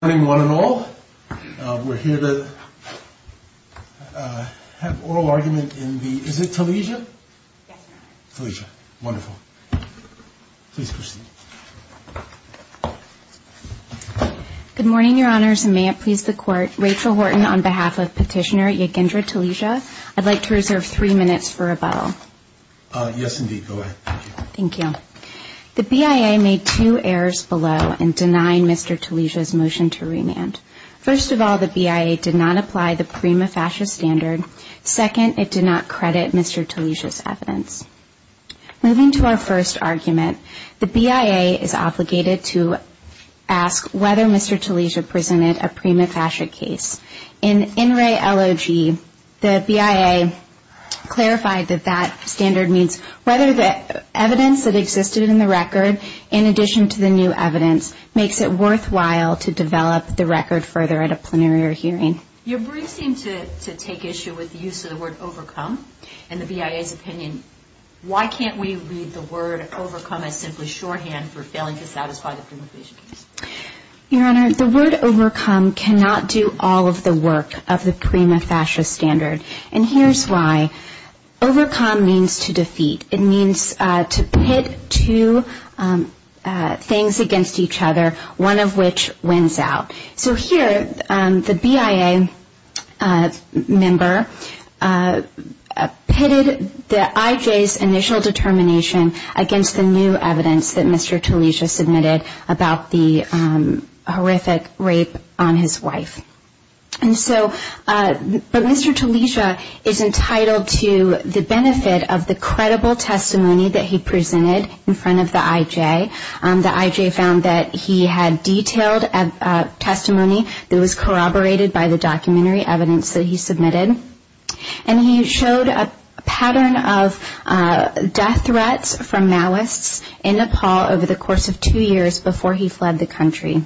Good morning, one and all. We're here to have oral argument in the, is it Talijia? Talijia, wonderful. Please proceed. Good morning, your honors, and may it please the court, Rachel Horton on behalf of petitioner Yigindra Talijia. I'd like to reserve three minutes for rebuttal. Yes, indeed. Go ahead. Thank you. The BIA made two errors below in denying Mr. Talijia's motion to remand. First of all, the BIA did not apply the prima facie standard. Second, it did not credit Mr. Talijia's evidence. Moving to our first argument, the BIA is obligated to ask whether Mr. Talijia presented a prima facie case. In NRA LOG, the BIA clarified that that standard means whether the evidence that existed in the record, in addition to the new evidence, makes it worthwhile to develop the record further at a plenary or hearing. Your briefs seem to take issue with the use of the word overcome. In the BIA's opinion, why can't we read the word overcome as simply shorthand for failing to satisfy the prima facie case? Your Honor, the word overcome cannot do all of the work of the prima facie standard, and here's why. Overcome means to defeat. It means to pit two things against each other, one of which wins out. So here, the BIA member pitted the IJ's initial determination against the new evidence that Mr. Talijia submitted about the horrific rape on his wife. But Mr. Talijia is entitled to the benefit of the credible testimony that he presented in front of the IJ. The IJ found that he had detailed testimony that was corroborated by the documentary evidence that he submitted. And he showed a pattern of death threats from Maoists in Nepal over the course of two years before he fled the country.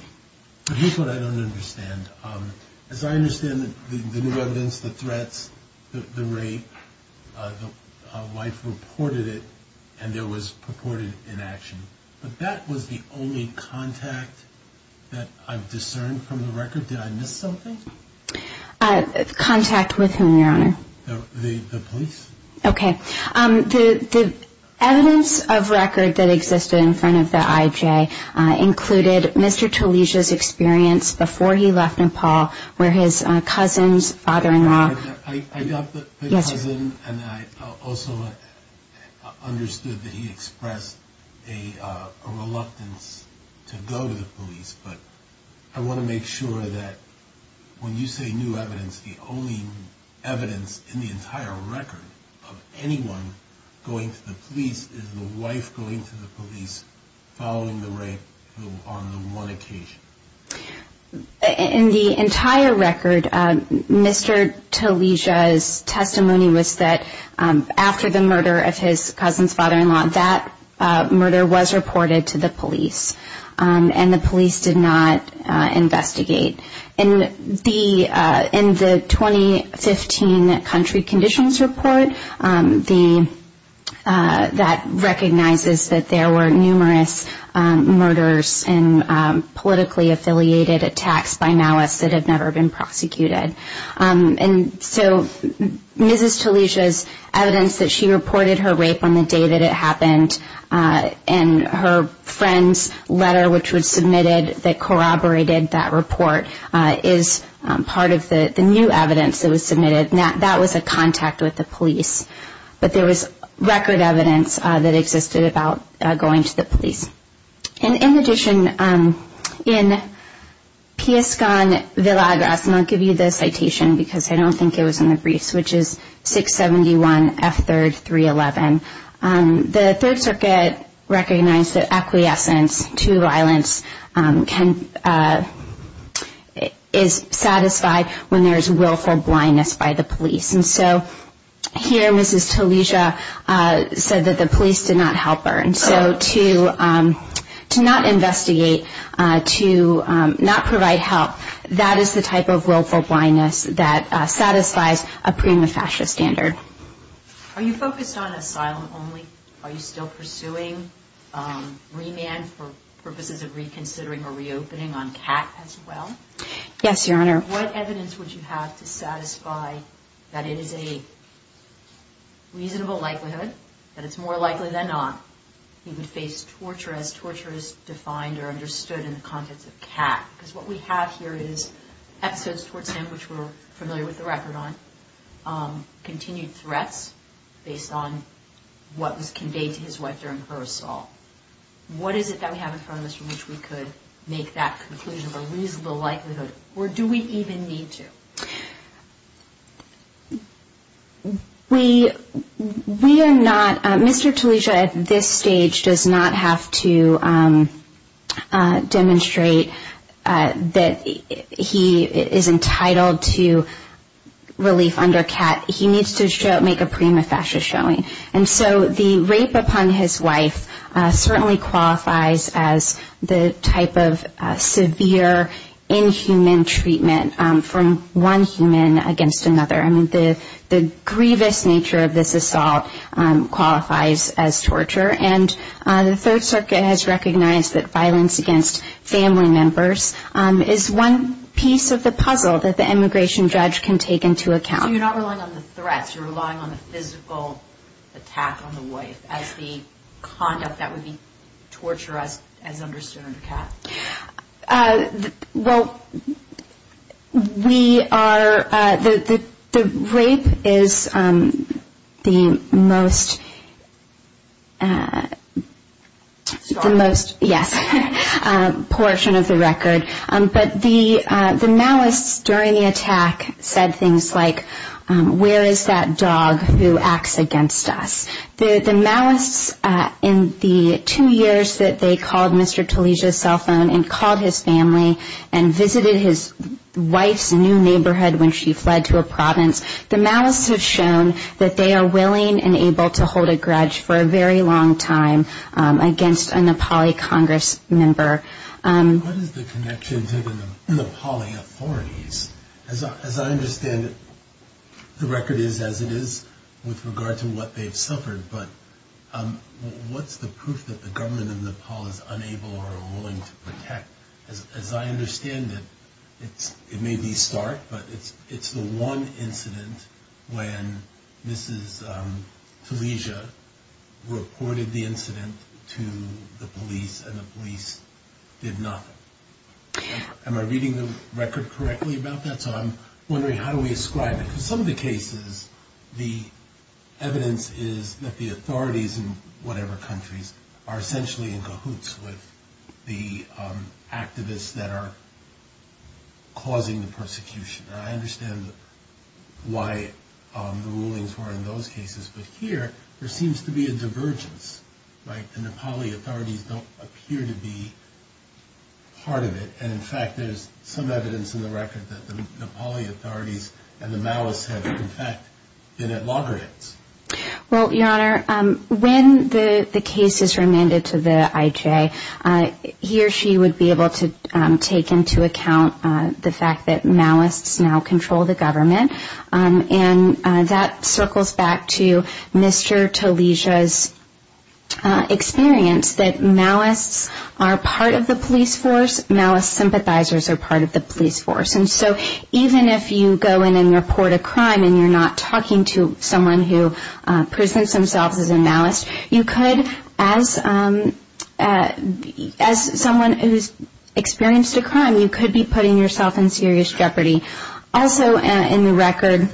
But here's what I don't understand. As I understand the new evidence, the threats, the rape, the wife reported it, and there was purported inaction. But that was the only contact that I've discerned from the record. Did I miss something? Contact with whom, Your Honor? The police. Okay. The evidence of record that existed in front of the IJ included Mr. Talijia's experience before he left Nepal where his cousin's father-in-law I got the cousin, and I also understood that he expressed a reluctance to go to the police. But I want to make sure that when you say new evidence, the only evidence in the entire record of anyone going to the police is the wife going to the police following the rape on the one occasion. In the entire record, Mr. Talijia's testimony was that after the murder of his cousin's father-in-law, that murder was reported to the police, and the police did not investigate. In the 2015 country conditions report, that recognizes that there were numerous murders and politically affiliated attacks by Maoists that have never been prosecuted. And so Mrs. Talijia's evidence that she reported her rape on the day that it happened, and her friend's letter which was submitted that corroborated that report, is part of the new evidence that was submitted. That was a contact with the police. But there was record evidence that existed about going to the police. In addition, in Piescon Villagras, and I'll give you the citation because I don't think it was in the briefs, which is 671 F3 311, the Third Circuit recognized that acquiescence to violence is satisfied when there is willful blindness by the police. And so here Mrs. Talijia said that the police did not help her. And so to not investigate, to not provide help, that is the type of willful blindness that satisfies a prima facie standard. Are you focused on asylum only? Are you still pursuing remand for purposes of reconsidering or reopening on CAT as well? Yes, Your Honor. What evidence would you have to satisfy that it is a reasonable likelihood, that it's more likely than not, he would face torture as torture is defined or understood in the context of CAT? Because what we have here is episodes towards him which we're familiar with the record on, continued threats based on what was conveyed to his wife during her assault. What is it that we have in front of us from which we could make that conclusion of a reasonable likelihood, or do we even need to? We are not, Mr. Talijia at this stage does not have to demonstrate that he is entitled to relief under CAT. He needs to make a prima facie showing. And so the rape upon his wife certainly qualifies as the type of severe inhuman treatment from one human against another. The grievous nature of this assault qualifies as torture. And the Third Circuit has recognized that violence against family members is one piece of the puzzle that the immigration judge can take into account. So you're relying on the threats, you're relying on the physical attack on the wife as the conduct that would be torture as understood under CAT? Well, we are, the rape is the most, the most, yes, portion of the record. But the malice during the attack said things like, where is that dog who acts against us? The malice in the two years that they called Mr. Talijia's cell phone and called his family and visited his wife's new neighborhood when she fled to a province, the malice has shown that they are willing and able to hold a grudge for a very long time against a Nepali Congress member. What is the connection to the Nepali authorities? As I understand it, the record is as it is with regard to what they've suffered. But what's the proof that the government of Nepal is unable or willing to protect? As I understand it, it may be stark, but it's the one incident when Mrs. Talijia reported the incident to the police and the police did not report it. Did nothing. Am I reading the record correctly about that? So I'm wondering how do we ascribe it? Because some of the cases, the evidence is that the authorities in whatever countries are essentially in cahoots with the activists that are causing the persecution. And I understand why the rulings were in those cases. But here, there seems to be a divergence, right? The Nepali authorities don't appear to be part of it. And in fact, there's some evidence in the record that the Nepali authorities and the malice have in fact been at loggerheads. Well, Your Honor, when the case is remanded to the IJ, he or she would be able to take into account the fact that malice now control the government. And that circles back to Mr. Talijia's experience that malice are part of the police force. Malice sympathizers are part of the police force. And so even if you go in and report a crime and you're not talking to someone who presents themselves as a malice, you could as someone who's experienced a crime, you could be putting yourself in serious jeopardy. Also in the record,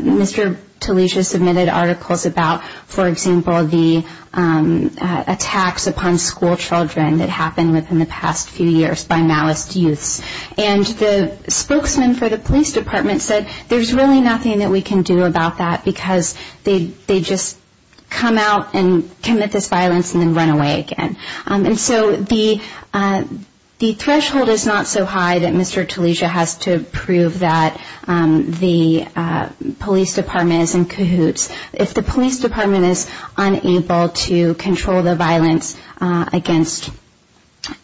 Mr. Talijia submitted articles about, for example, the attacks upon school children that happened within the past few years by malice youths. And the spokesman for the police department said, there's really nothing that we can do about that because they just come out and commit this violence and then run away again. And so the threshold is not so high that Mr. Talijia has to prove that the police department is in cahoots. If the police department is unable to control the violence against,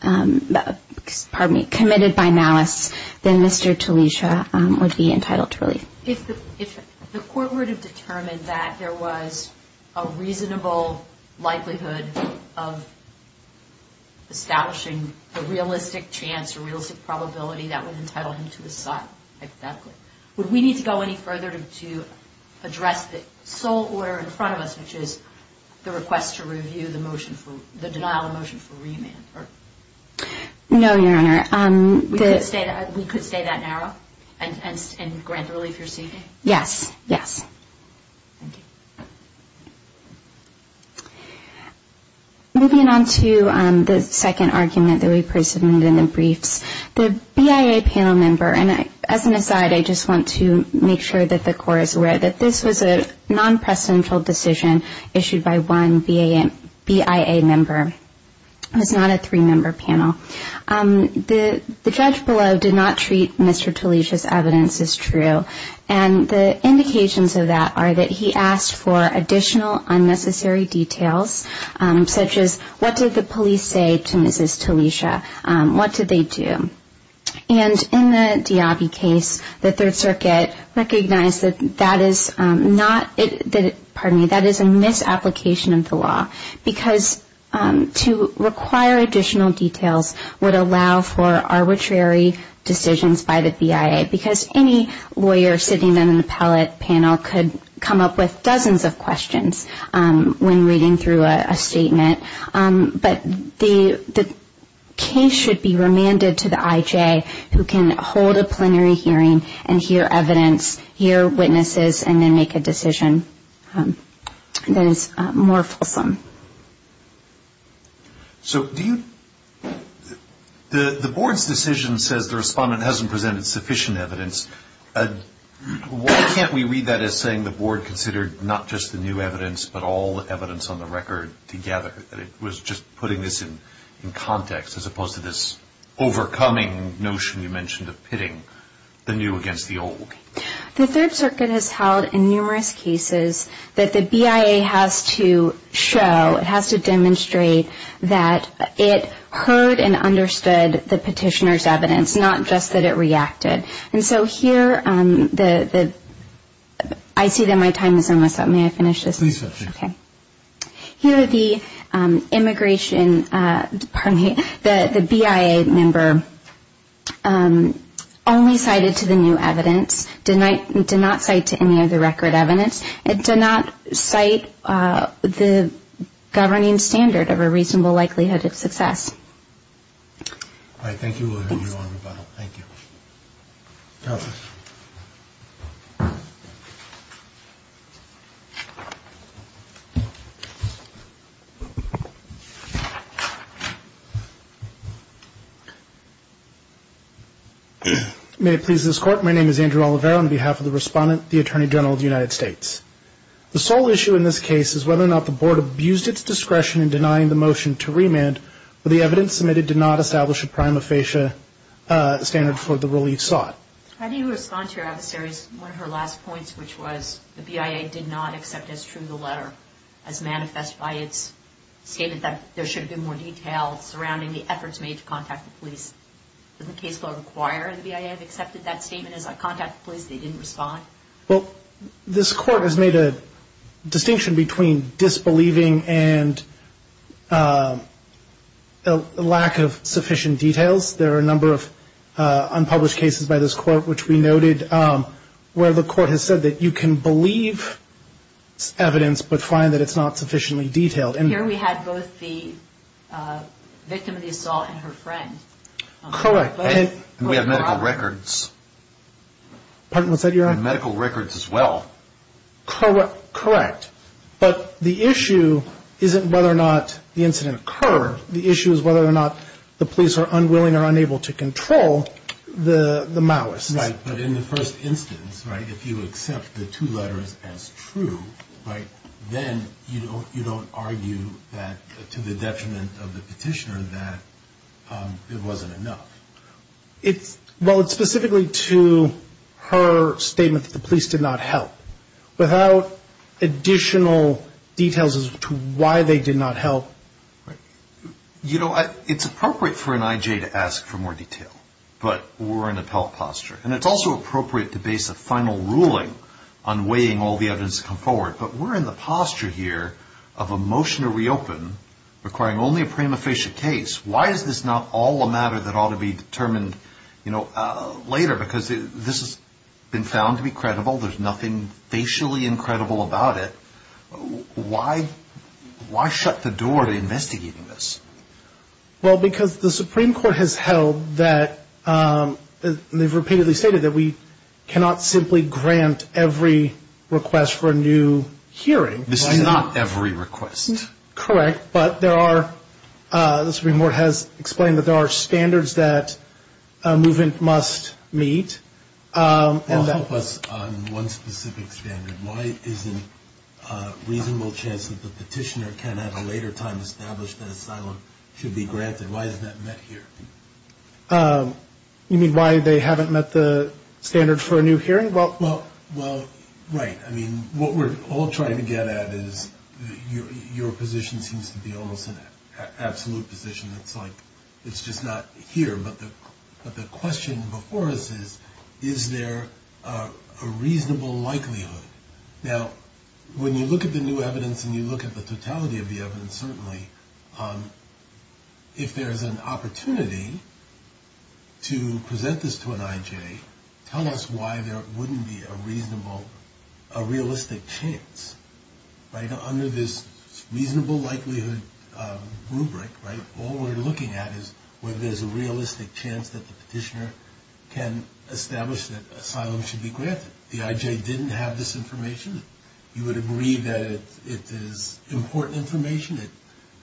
pardon me, committed by malice, then Mr. Talijia would be entitled to relief. If the court were to determine that there was a reasonable likelihood of establishing a realistic chance or realistic probability that would entitle him to asylum, would we need to go any further to address the sole order in front of us, which is the request to review the denial of motion for remand? No, Your Honor. We could stay that narrow and grant relief you're seeking? Yes, yes. Thank you. Moving on to the second argument that we presented in the briefs, the BIA panel member, and as an aside, I just want to make sure that the court is aware that this was a non-presidential decision issued by one BIA member. The judge below did not treat Mr. Talijia's evidence as true, and the indications of that are that he asked for additional unnecessary details, such as what did the police say to Mrs. Talijia? What did they do? And in the Diabi case, the Third Circuit recognized that that is not, pardon me, that is a misapplication of the law. Because to require additional details would allow for arbitrary decisions by the BIA, because any lawyer sitting in an appellate panel could come up with dozens of questions when reading through a statement. But the case should be remanded to the IJ who can hold a plenary hearing and hear evidence, hear witnesses, and then make a decision that is more fulsome. So do you, the board's decision says the respondent hasn't presented sufficient evidence. Why can't we read that as saying the board considered not just the new evidence, but all the evidence on the record together? That it was just putting this in context, as opposed to this overcoming notion you mentioned of pitting the new against the old? The Third Circuit has held in numerous cases that the BIA has to show that there is sufficient evidence. It has to show, it has to demonstrate that it heard and understood the petitioner's evidence, not just that it reacted. And so here, I see that my time is almost up. May I finish this? Please do. Here the immigration, pardon me, the BIA member only cited to the new evidence, did not cite to any of the record evidence. It did not cite the governing standard of a reasonable likelihood of success. All right, thank you. We'll hear you on rebuttal. Thank you. Counsel. May it please this Court, my name is Andrew Oliveira on behalf of the respondent, the Attorney General of the United States. The sole issue in this case is whether or not the board abused its discretion in denying the motion to remand, but the evidence submitted did not establish a prima facie standard for the relief sought. How do you respond to your adversary's, one of her last points, which was the BIA did not accept as true the letter, as manifest by its statement that there should have been more detail surrounding the efforts made to contact the police? Does the case law require the BIA have accepted that statement as I contact the police, they didn't respond? Well, this Court has made a distinction between disbelieving and a lack of sufficient details. There are a number of unpublished cases by this Court, which we noted, where the Court has said that you can believe evidence, but find that it's not sufficiently detailed. And here we had both the victim of the assault and her friend. And we have medical records. Medical records as well. Correct. But the issue isn't whether or not the incident occurred. The issue is whether or not the police are unwilling or unable to control the malice. But in the first instance, if you accept the two letters as true, then you don't argue that to the detriment of the petitioner that it wasn't enough. Well, it's specifically to her statement that the police did not help. Without additional details as to why they did not help. You know, it's appropriate for an IJ to ask for more detail. But we're in appellate posture. And it's also appropriate to base a final ruling on weighing all the evidence to come forward. But we're in the posture here of a motion to reopen requiring only a prima facie case. Why is this not all a matter that ought to be determined, you know, later? Because this has been found to be credible. There's nothing facially incredible about it. Why shut the door to investigating this? Well, because the Supreme Court has held that, and they've repeatedly stated, that we cannot simply grant every request for a new hearing. This is not every request. Correct. But there are, the Supreme Court has explained that there are standards that a movement must meet. Well, help us on one specific standard. Why isn't a reasonable chance that the petitioner can at a later time establish that asylum should be granted? Why isn't that met here? You mean why they haven't met the standard for a new hearing? Well, right. I mean, what we're all trying to get at is your position seems to be almost an absolute position. It's like, it's just not here. But the question before us is, is there a reasonable likelihood? Now, when you look at the new evidence and you look at the totality of the evidence, certainly, if there's an opportunity to present this to an I.J., tell us why there wouldn't be a reasonable, a realistic chance. Under this reasonable likelihood rubric, all we're looking at is whether there's a realistic chance that the petitioner can establish that asylum should be granted. The I.J. didn't have this information. You would agree that it is important information. It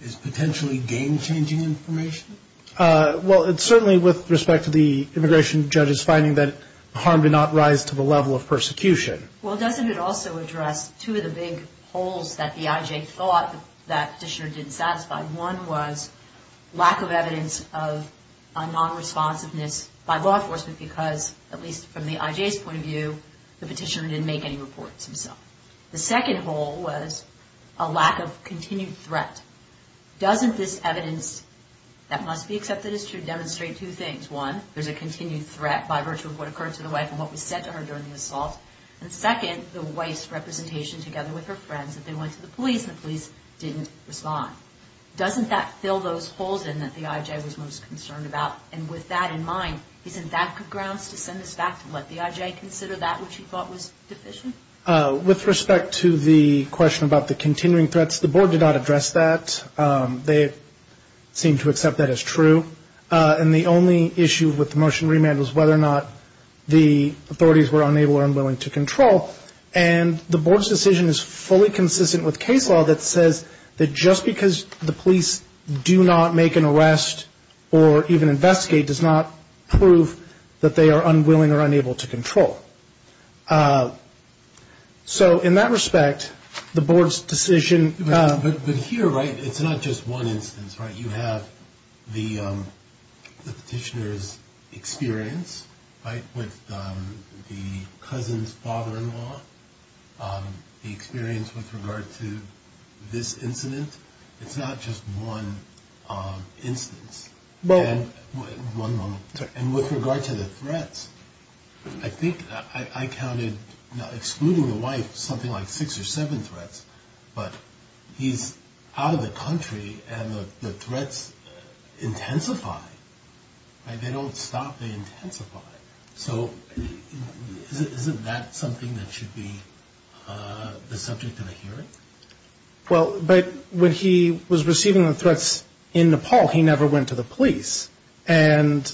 is potentially game-changing information. Well, certainly with respect to the immigration judges finding that harm did not rise to the level of persecution. Well, doesn't it also address two of the big holes that the I.J. thought that the petitioner didn't satisfy? One was lack of evidence of a non-responsiveness by law enforcement because, at least from the I.J.'s point of view, the petitioner didn't make any reports himself. The second hole was a lack of continued threat. Doesn't this evidence that must be accepted as true demonstrate two things? One, there's a continued threat by virtue of what occurred to the wife and what was said to her during the assault. And second, the wife's representation together with her friends, that they went to the police and the police didn't respond. Doesn't that fill those holes in that the I.J. was most concerned about? And with that in mind, isn't that grounds to send us back to let the I.J. consider that which he thought was deficient? With respect to the question about the continuing threats, the board did not address that. They seem to accept that as true. And the only issue with the motion remand was whether or not the authorities were unable or unwilling to control. And the board's decision is fully consistent with case law that says that just because the police do not make an arrest or even investigate does not prove that they are unwilling or unable to control. So in that respect, the board's decision... But here, right, it's not just one instance, right? You have the petitioner's experience, right, with the cousin's father-in-law, the experience with regard to this incident. It's not just one instance. One moment. And with regard to the threats, I think I counted excluding the wife something like six or seven threats, but he's out of the country and the threats intensify. They don't stop. They intensify. So isn't that something that should be the subject of a hearing? Well, but when he was receiving the threats in Nepal, he never went to the police. And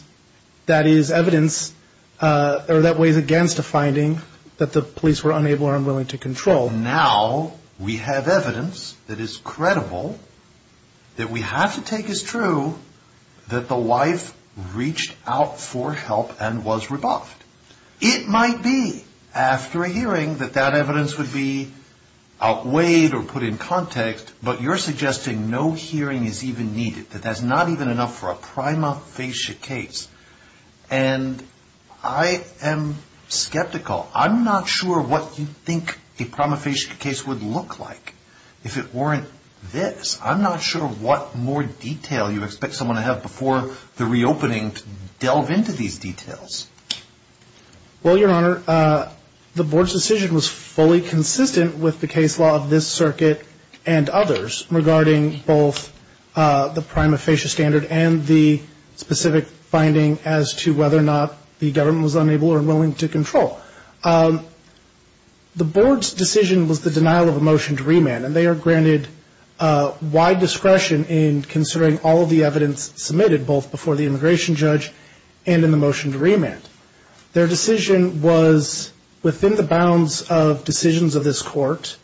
that is evidence that weighs against a finding that the police were unable or unwilling to control. Now we have evidence that is credible that we have to take as true that the wife reached out for help and was rebuffed. It might be, after a hearing, that that evidence would be outweighed or put in context, but you're suggesting no hearing is even needed, that that's not even enough for a prima facie case. And I am skeptical. I'm not sure what you think a prima facie case would look like if it weren't this. I'm not sure what more detail you expect someone to have before the reopening to delve into these details. Well, Your Honor, the board's decision was fully consistent with the case law of this circuit and others regarding both the prima facie standard and the specific finding as to whether or not the government was unable or unwilling to control. The board's decision was the denial of a motion to remand, and they are granted wide discretion in considering all of the evidence submitted, both before the immigration judge and in the motion to remand. Their decision was within the bounds of decisions of this court.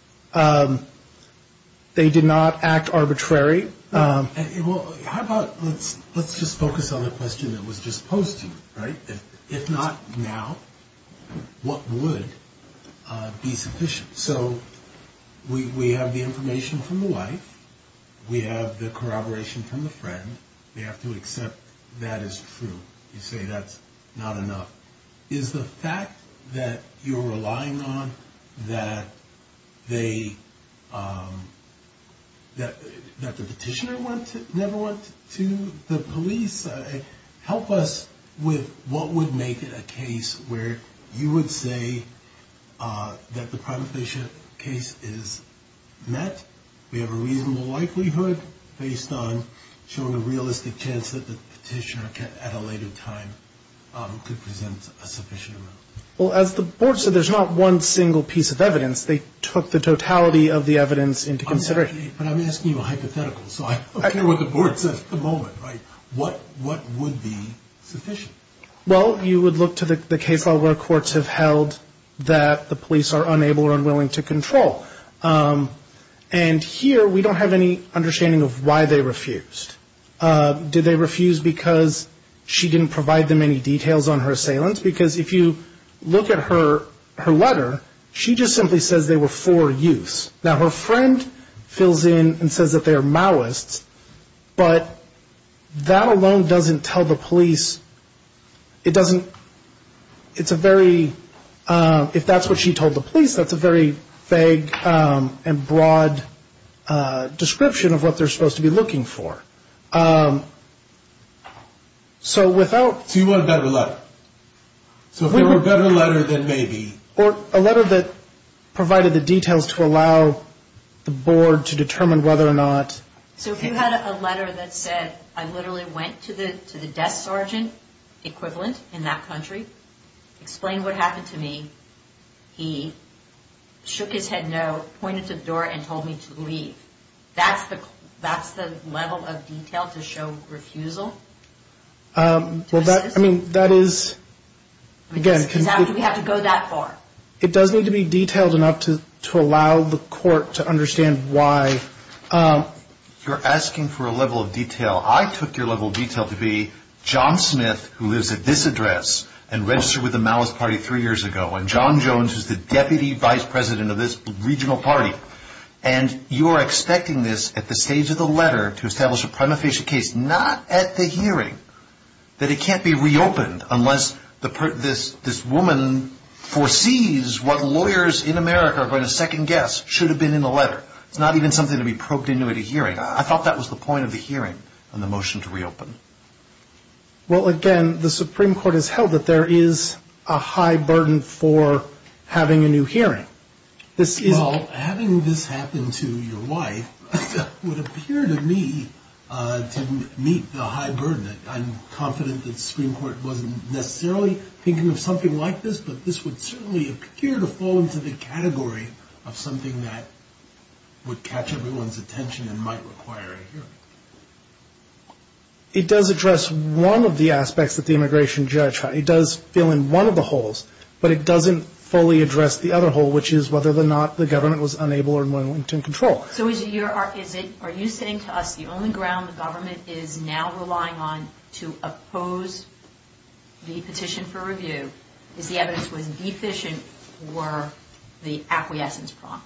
They did not act arbitrary. How about let's just focus on the question that was just posed to you, right? If not now, what would be sufficient? So we have the information from the wife. We have the corroboration from the friend. We have to accept that is true. You say that's not enough. Is the fact that you're relying on that they, that the petitioner never went to the police? Help us with what would make it a case where you would say that the prima facie case is met, we have a reasonable likelihood based on showing a realistic chance that the petitioner at a later time could present a sufficient amount? Well, as the board said, there's not one single piece of evidence. They took the totality of the evidence into consideration. But I'm asking you a hypothetical, so I don't care what the board says at the moment, right? What would be sufficient? Well, you would look to the case level where courts have held that the police are unable or unwilling to control. And here we don't have any understanding of why they refused. Did they refuse because she didn't provide them any details on her assailants? Because if you look at her letter, she just simply says they were for use. Now, her friend fills in and says that they are Maoists. But that alone doesn't tell the police, it doesn't, it's a very, if that's what she told the police, that's a very vague and broad description of what they're supposed to be looking for. So without... So you want a better letter? So if there were a better letter, then maybe... Or a letter that provided the details to allow the board to determine whether or not... So if you had a letter that said, I literally went to the desk sergeant equivalent in that country, explained what happened to me, he shook his head no, pointed to the door and told me to leave. That's the level of detail to show refusal? Well, that, I mean, that is... Exactly, we have to go that far. It does need to be detailed enough to allow the court to understand why... You're asking for a level of detail. I took your level of detail to be John Smith, who lives at this address, and registered with the Maoist Party three years ago, and John Jones, who's the deputy vice president of this regional party. And you are expecting this at the stage of the letter to establish a prima facie case, not at the hearing, that it can't be reopened unless this woman foresees what lawyers in America are going to second guess should have been in the letter. It's not even something to be probed into at a hearing. I thought that was the point of the hearing on the motion to reopen. Well, again, the Supreme Court has held that there is a high burden for having a new hearing. Well, having this happen to your wife would appear to me to meet the high burden. I'm confident that the Supreme Court wasn't necessarily thinking of something like this, but this would certainly appear to fall into the category of something that would catch everyone's attention and might require a hearing. It does address one of the aspects that the immigration judge... It does fill in one of the holes, but it doesn't fully address the other hole, which is whether or not the government was unable or unwilling to control. So are you saying to us the only ground the government is now relying on to oppose the petition for review is the evidence was deficient were the acquiescence prompt?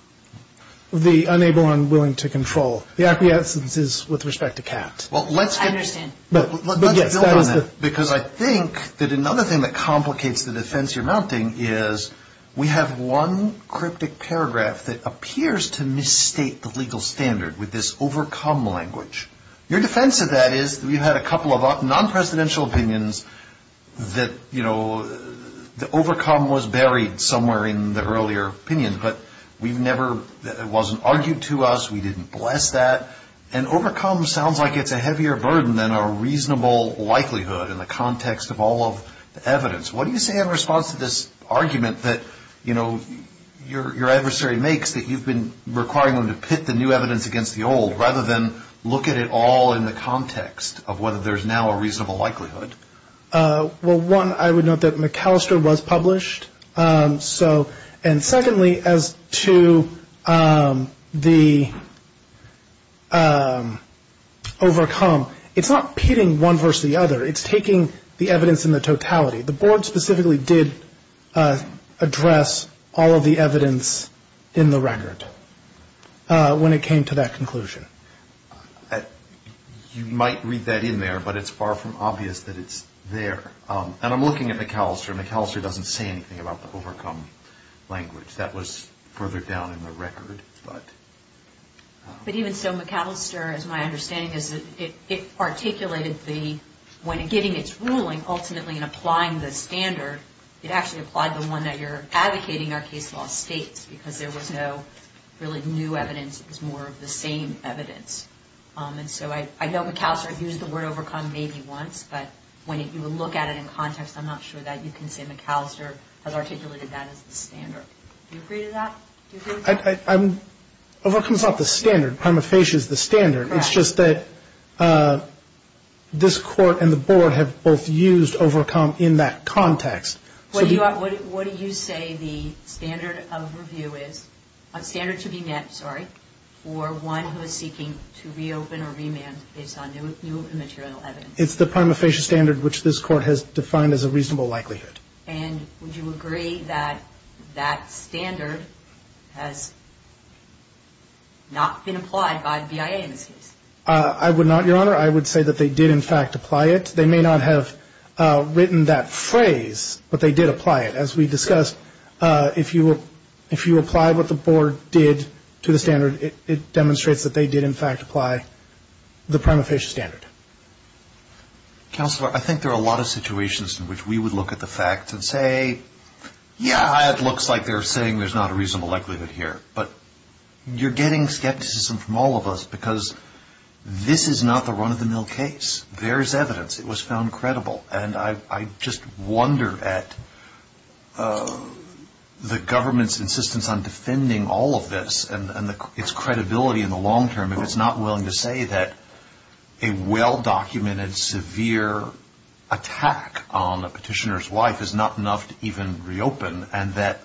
The unable and unwilling to control. The acquiescence is with respect to Kat. I understand. Because I think that another thing that complicates the defense you're mounting is we have one cryptic paragraph that appears to misstate the legal standard with this overcome language. Your defense of that is we've had a couple of non-presidential opinions that, you know, the overcome was buried somewhere in the earlier opinion, but it wasn't argued to us, we didn't bless that, and overcome sounds like it's a heavier burden than a reasonable likelihood in the context of all of the evidence. What do you say in response to this argument that, you know, your adversary makes that you've been requiring them to pit the new evidence against the old rather than look at it all in the context of whether there's now a reasonable likelihood? Well, one, I would note that McAllister was published. So and secondly, as to the overcome, it's not pitting one versus the other. It's taking the evidence in the totality. The board specifically did address all of the evidence in the record when it came to that conclusion. You might read that in there, but it's far from obvious that it's there. And I'm looking at McAllister. McAllister doesn't say anything about the overcome language. That was further down in the record, but... But even so, McAllister, as my understanding is, it articulated the, when getting its ruling, ultimately in applying the standard, it actually applied the one that you're advocating our case law states because there was no really new evidence. It was more of the same evidence. And so I know McAllister used the word overcome maybe once, but when you look at it in context, I'm not sure that you can say McAllister has articulated that as the standard. Do you agree to that? Do you agree with that? Overcome is not the standard. Prima facie is the standard. Correct. It's just that this Court and the board have both used overcome in that context. What do you say the standard of review is, standard to be met, sorry, for one who is seeking to reopen or remand based on new material evidence? It's the prima facie standard, which this Court has defined as a reasonable likelihood. And would you agree that that standard has not been applied by the BIA in this case? I would not, Your Honor. I would say that they did, in fact, apply it. They may not have written that phrase, but they did apply it. As we discussed, if you apply what the board did to the standard, it demonstrates that they did, in fact, apply the prima facie standard. Counselor, I think there are a lot of situations in which we would look at the facts and say, yeah, it looks like they're saying there's not a reasonable likelihood here. But you're getting skepticism from all of us because this is not the run-of-the-mill case. There is evidence. It was found credible. And I just wonder at the government's insistence on defending all of this and its credibility in the long term, if it's not willing to say that a well-documented, severe attack on a petitioner's life is not enough to even reopen and that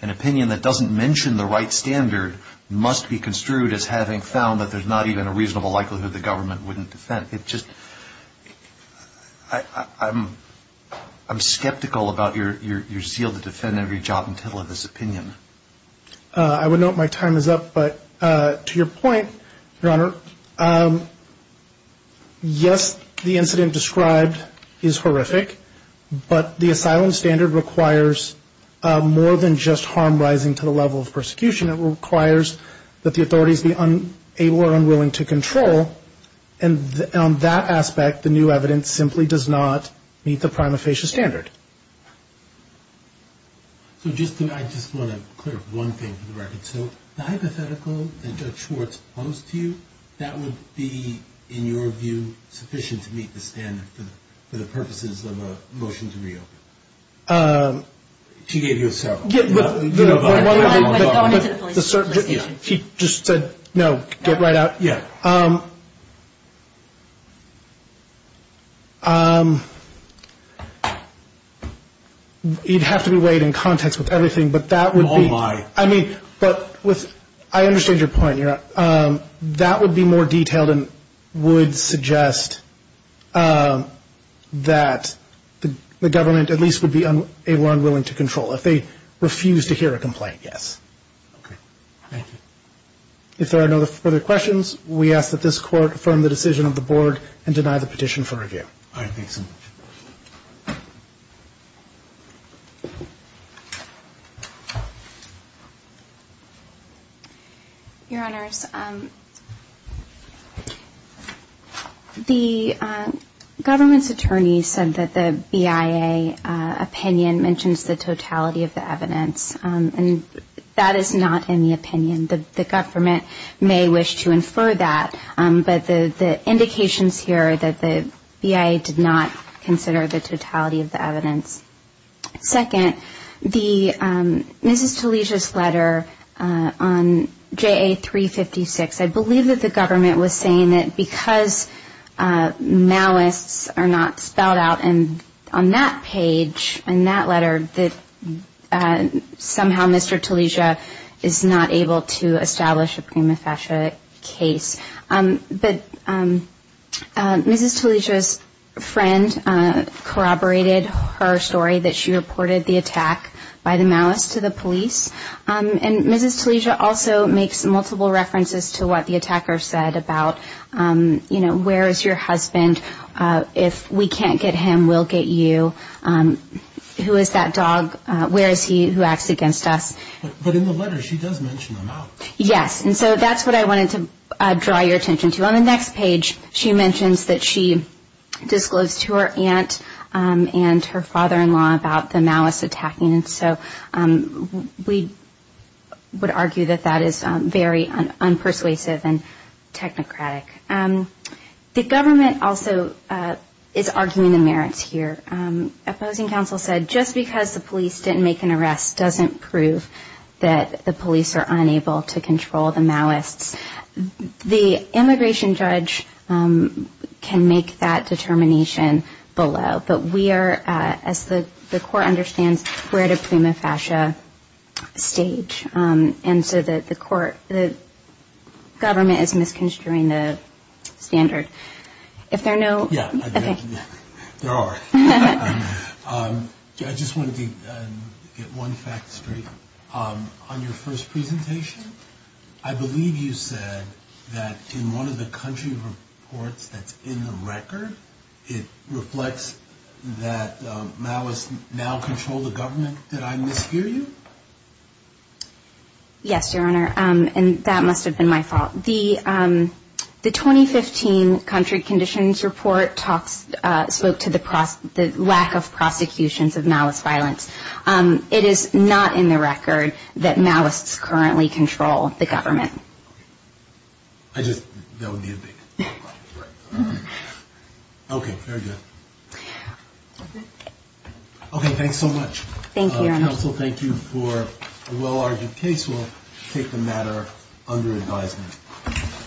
an opinion that doesn't mention the right standard must be construed as having found that there's not even a reasonable likelihood the government wouldn't defend. It just – I'm skeptical about your zeal to defend every jot and tittle of this opinion. I would note my time is up. But to your point, Your Honor, yes, the incident described is horrific. But the asylum standard requires more than just harm rising to the level of persecution. It requires that the authorities be unable or unwilling to control. And on that aspect, the new evidence simply does not meet the prima facie standard. So I just want to clear up one thing for the record. So the hypothetical that Judge Schwartz posed to you, that would be, in your view, sufficient to meet the standard for the purposes of a motion to reopen? She gave you a several. By going to the police station. She just said, no, get right out. Yeah. You'd have to be weighed in context with everything, but that would be. Oh, my. I mean, but with – I understand your point, Your Honor. That would be more detailed and would suggest that the government at least would be able or unwilling to control if they refuse to hear a complaint, yes. Okay. Thank you. If there are no further questions, we ask that this Court affirm the decision of the Board and deny the petition for review. All right. Thanks. Your Honors, the government's attorney said that the BIA opinion mentions the totality of the evidence. And that is not in the opinion. The government may wish to infer that. But the indications here are that the BIA did not consider the totality of the evidence. Second, Mrs. Talesia's letter on JA-356, I believe that the government was saying that because malice are not spelled out on that page, in that letter, that somehow Mr. Talesia is not able to establish a prima facie case. But Mrs. Talesia's friend corroborated her story that she reported the attack by the malice to the police. And Mrs. Talesia also makes multiple references to what the attacker said about, you know, where is your husband? If we can't get him, we'll get you. Who is that dog? Where is he who acts against us? But in the letter, she does mention the malice. Yes. And so that's what I wanted to draw your attention to. On the next page, she mentions that she disclosed to her aunt and her father-in-law about the malice attacking. And so we would argue that that is very unpersuasive and technocratic. The government also is arguing the merits here. Opposing counsel said just because the police didn't make an arrest doesn't prove that the police are unable to control the malice. The immigration judge can make that determination below. But we are, as the court understands, we're at a prima facie stage. And so the court, the government is misconstruing the standard. If there are no- Yeah. There are. I just wanted to get one fact straight. On your first presentation, I believe you said that in one of the country reports that's in the record, it reflects that malice now control the government. Did I mishear you? Yes, Your Honor, and that must have been my fault. The 2015 country conditions report spoke to the lack of prosecutions of malice violence. It is not in the record that malice currently control the government. I just, that would be a big- Okay, very good. Okay, thanks so much. Thank you, Your Honor. Counsel, thank you for a well-argued case. We'll take the matter under advisement.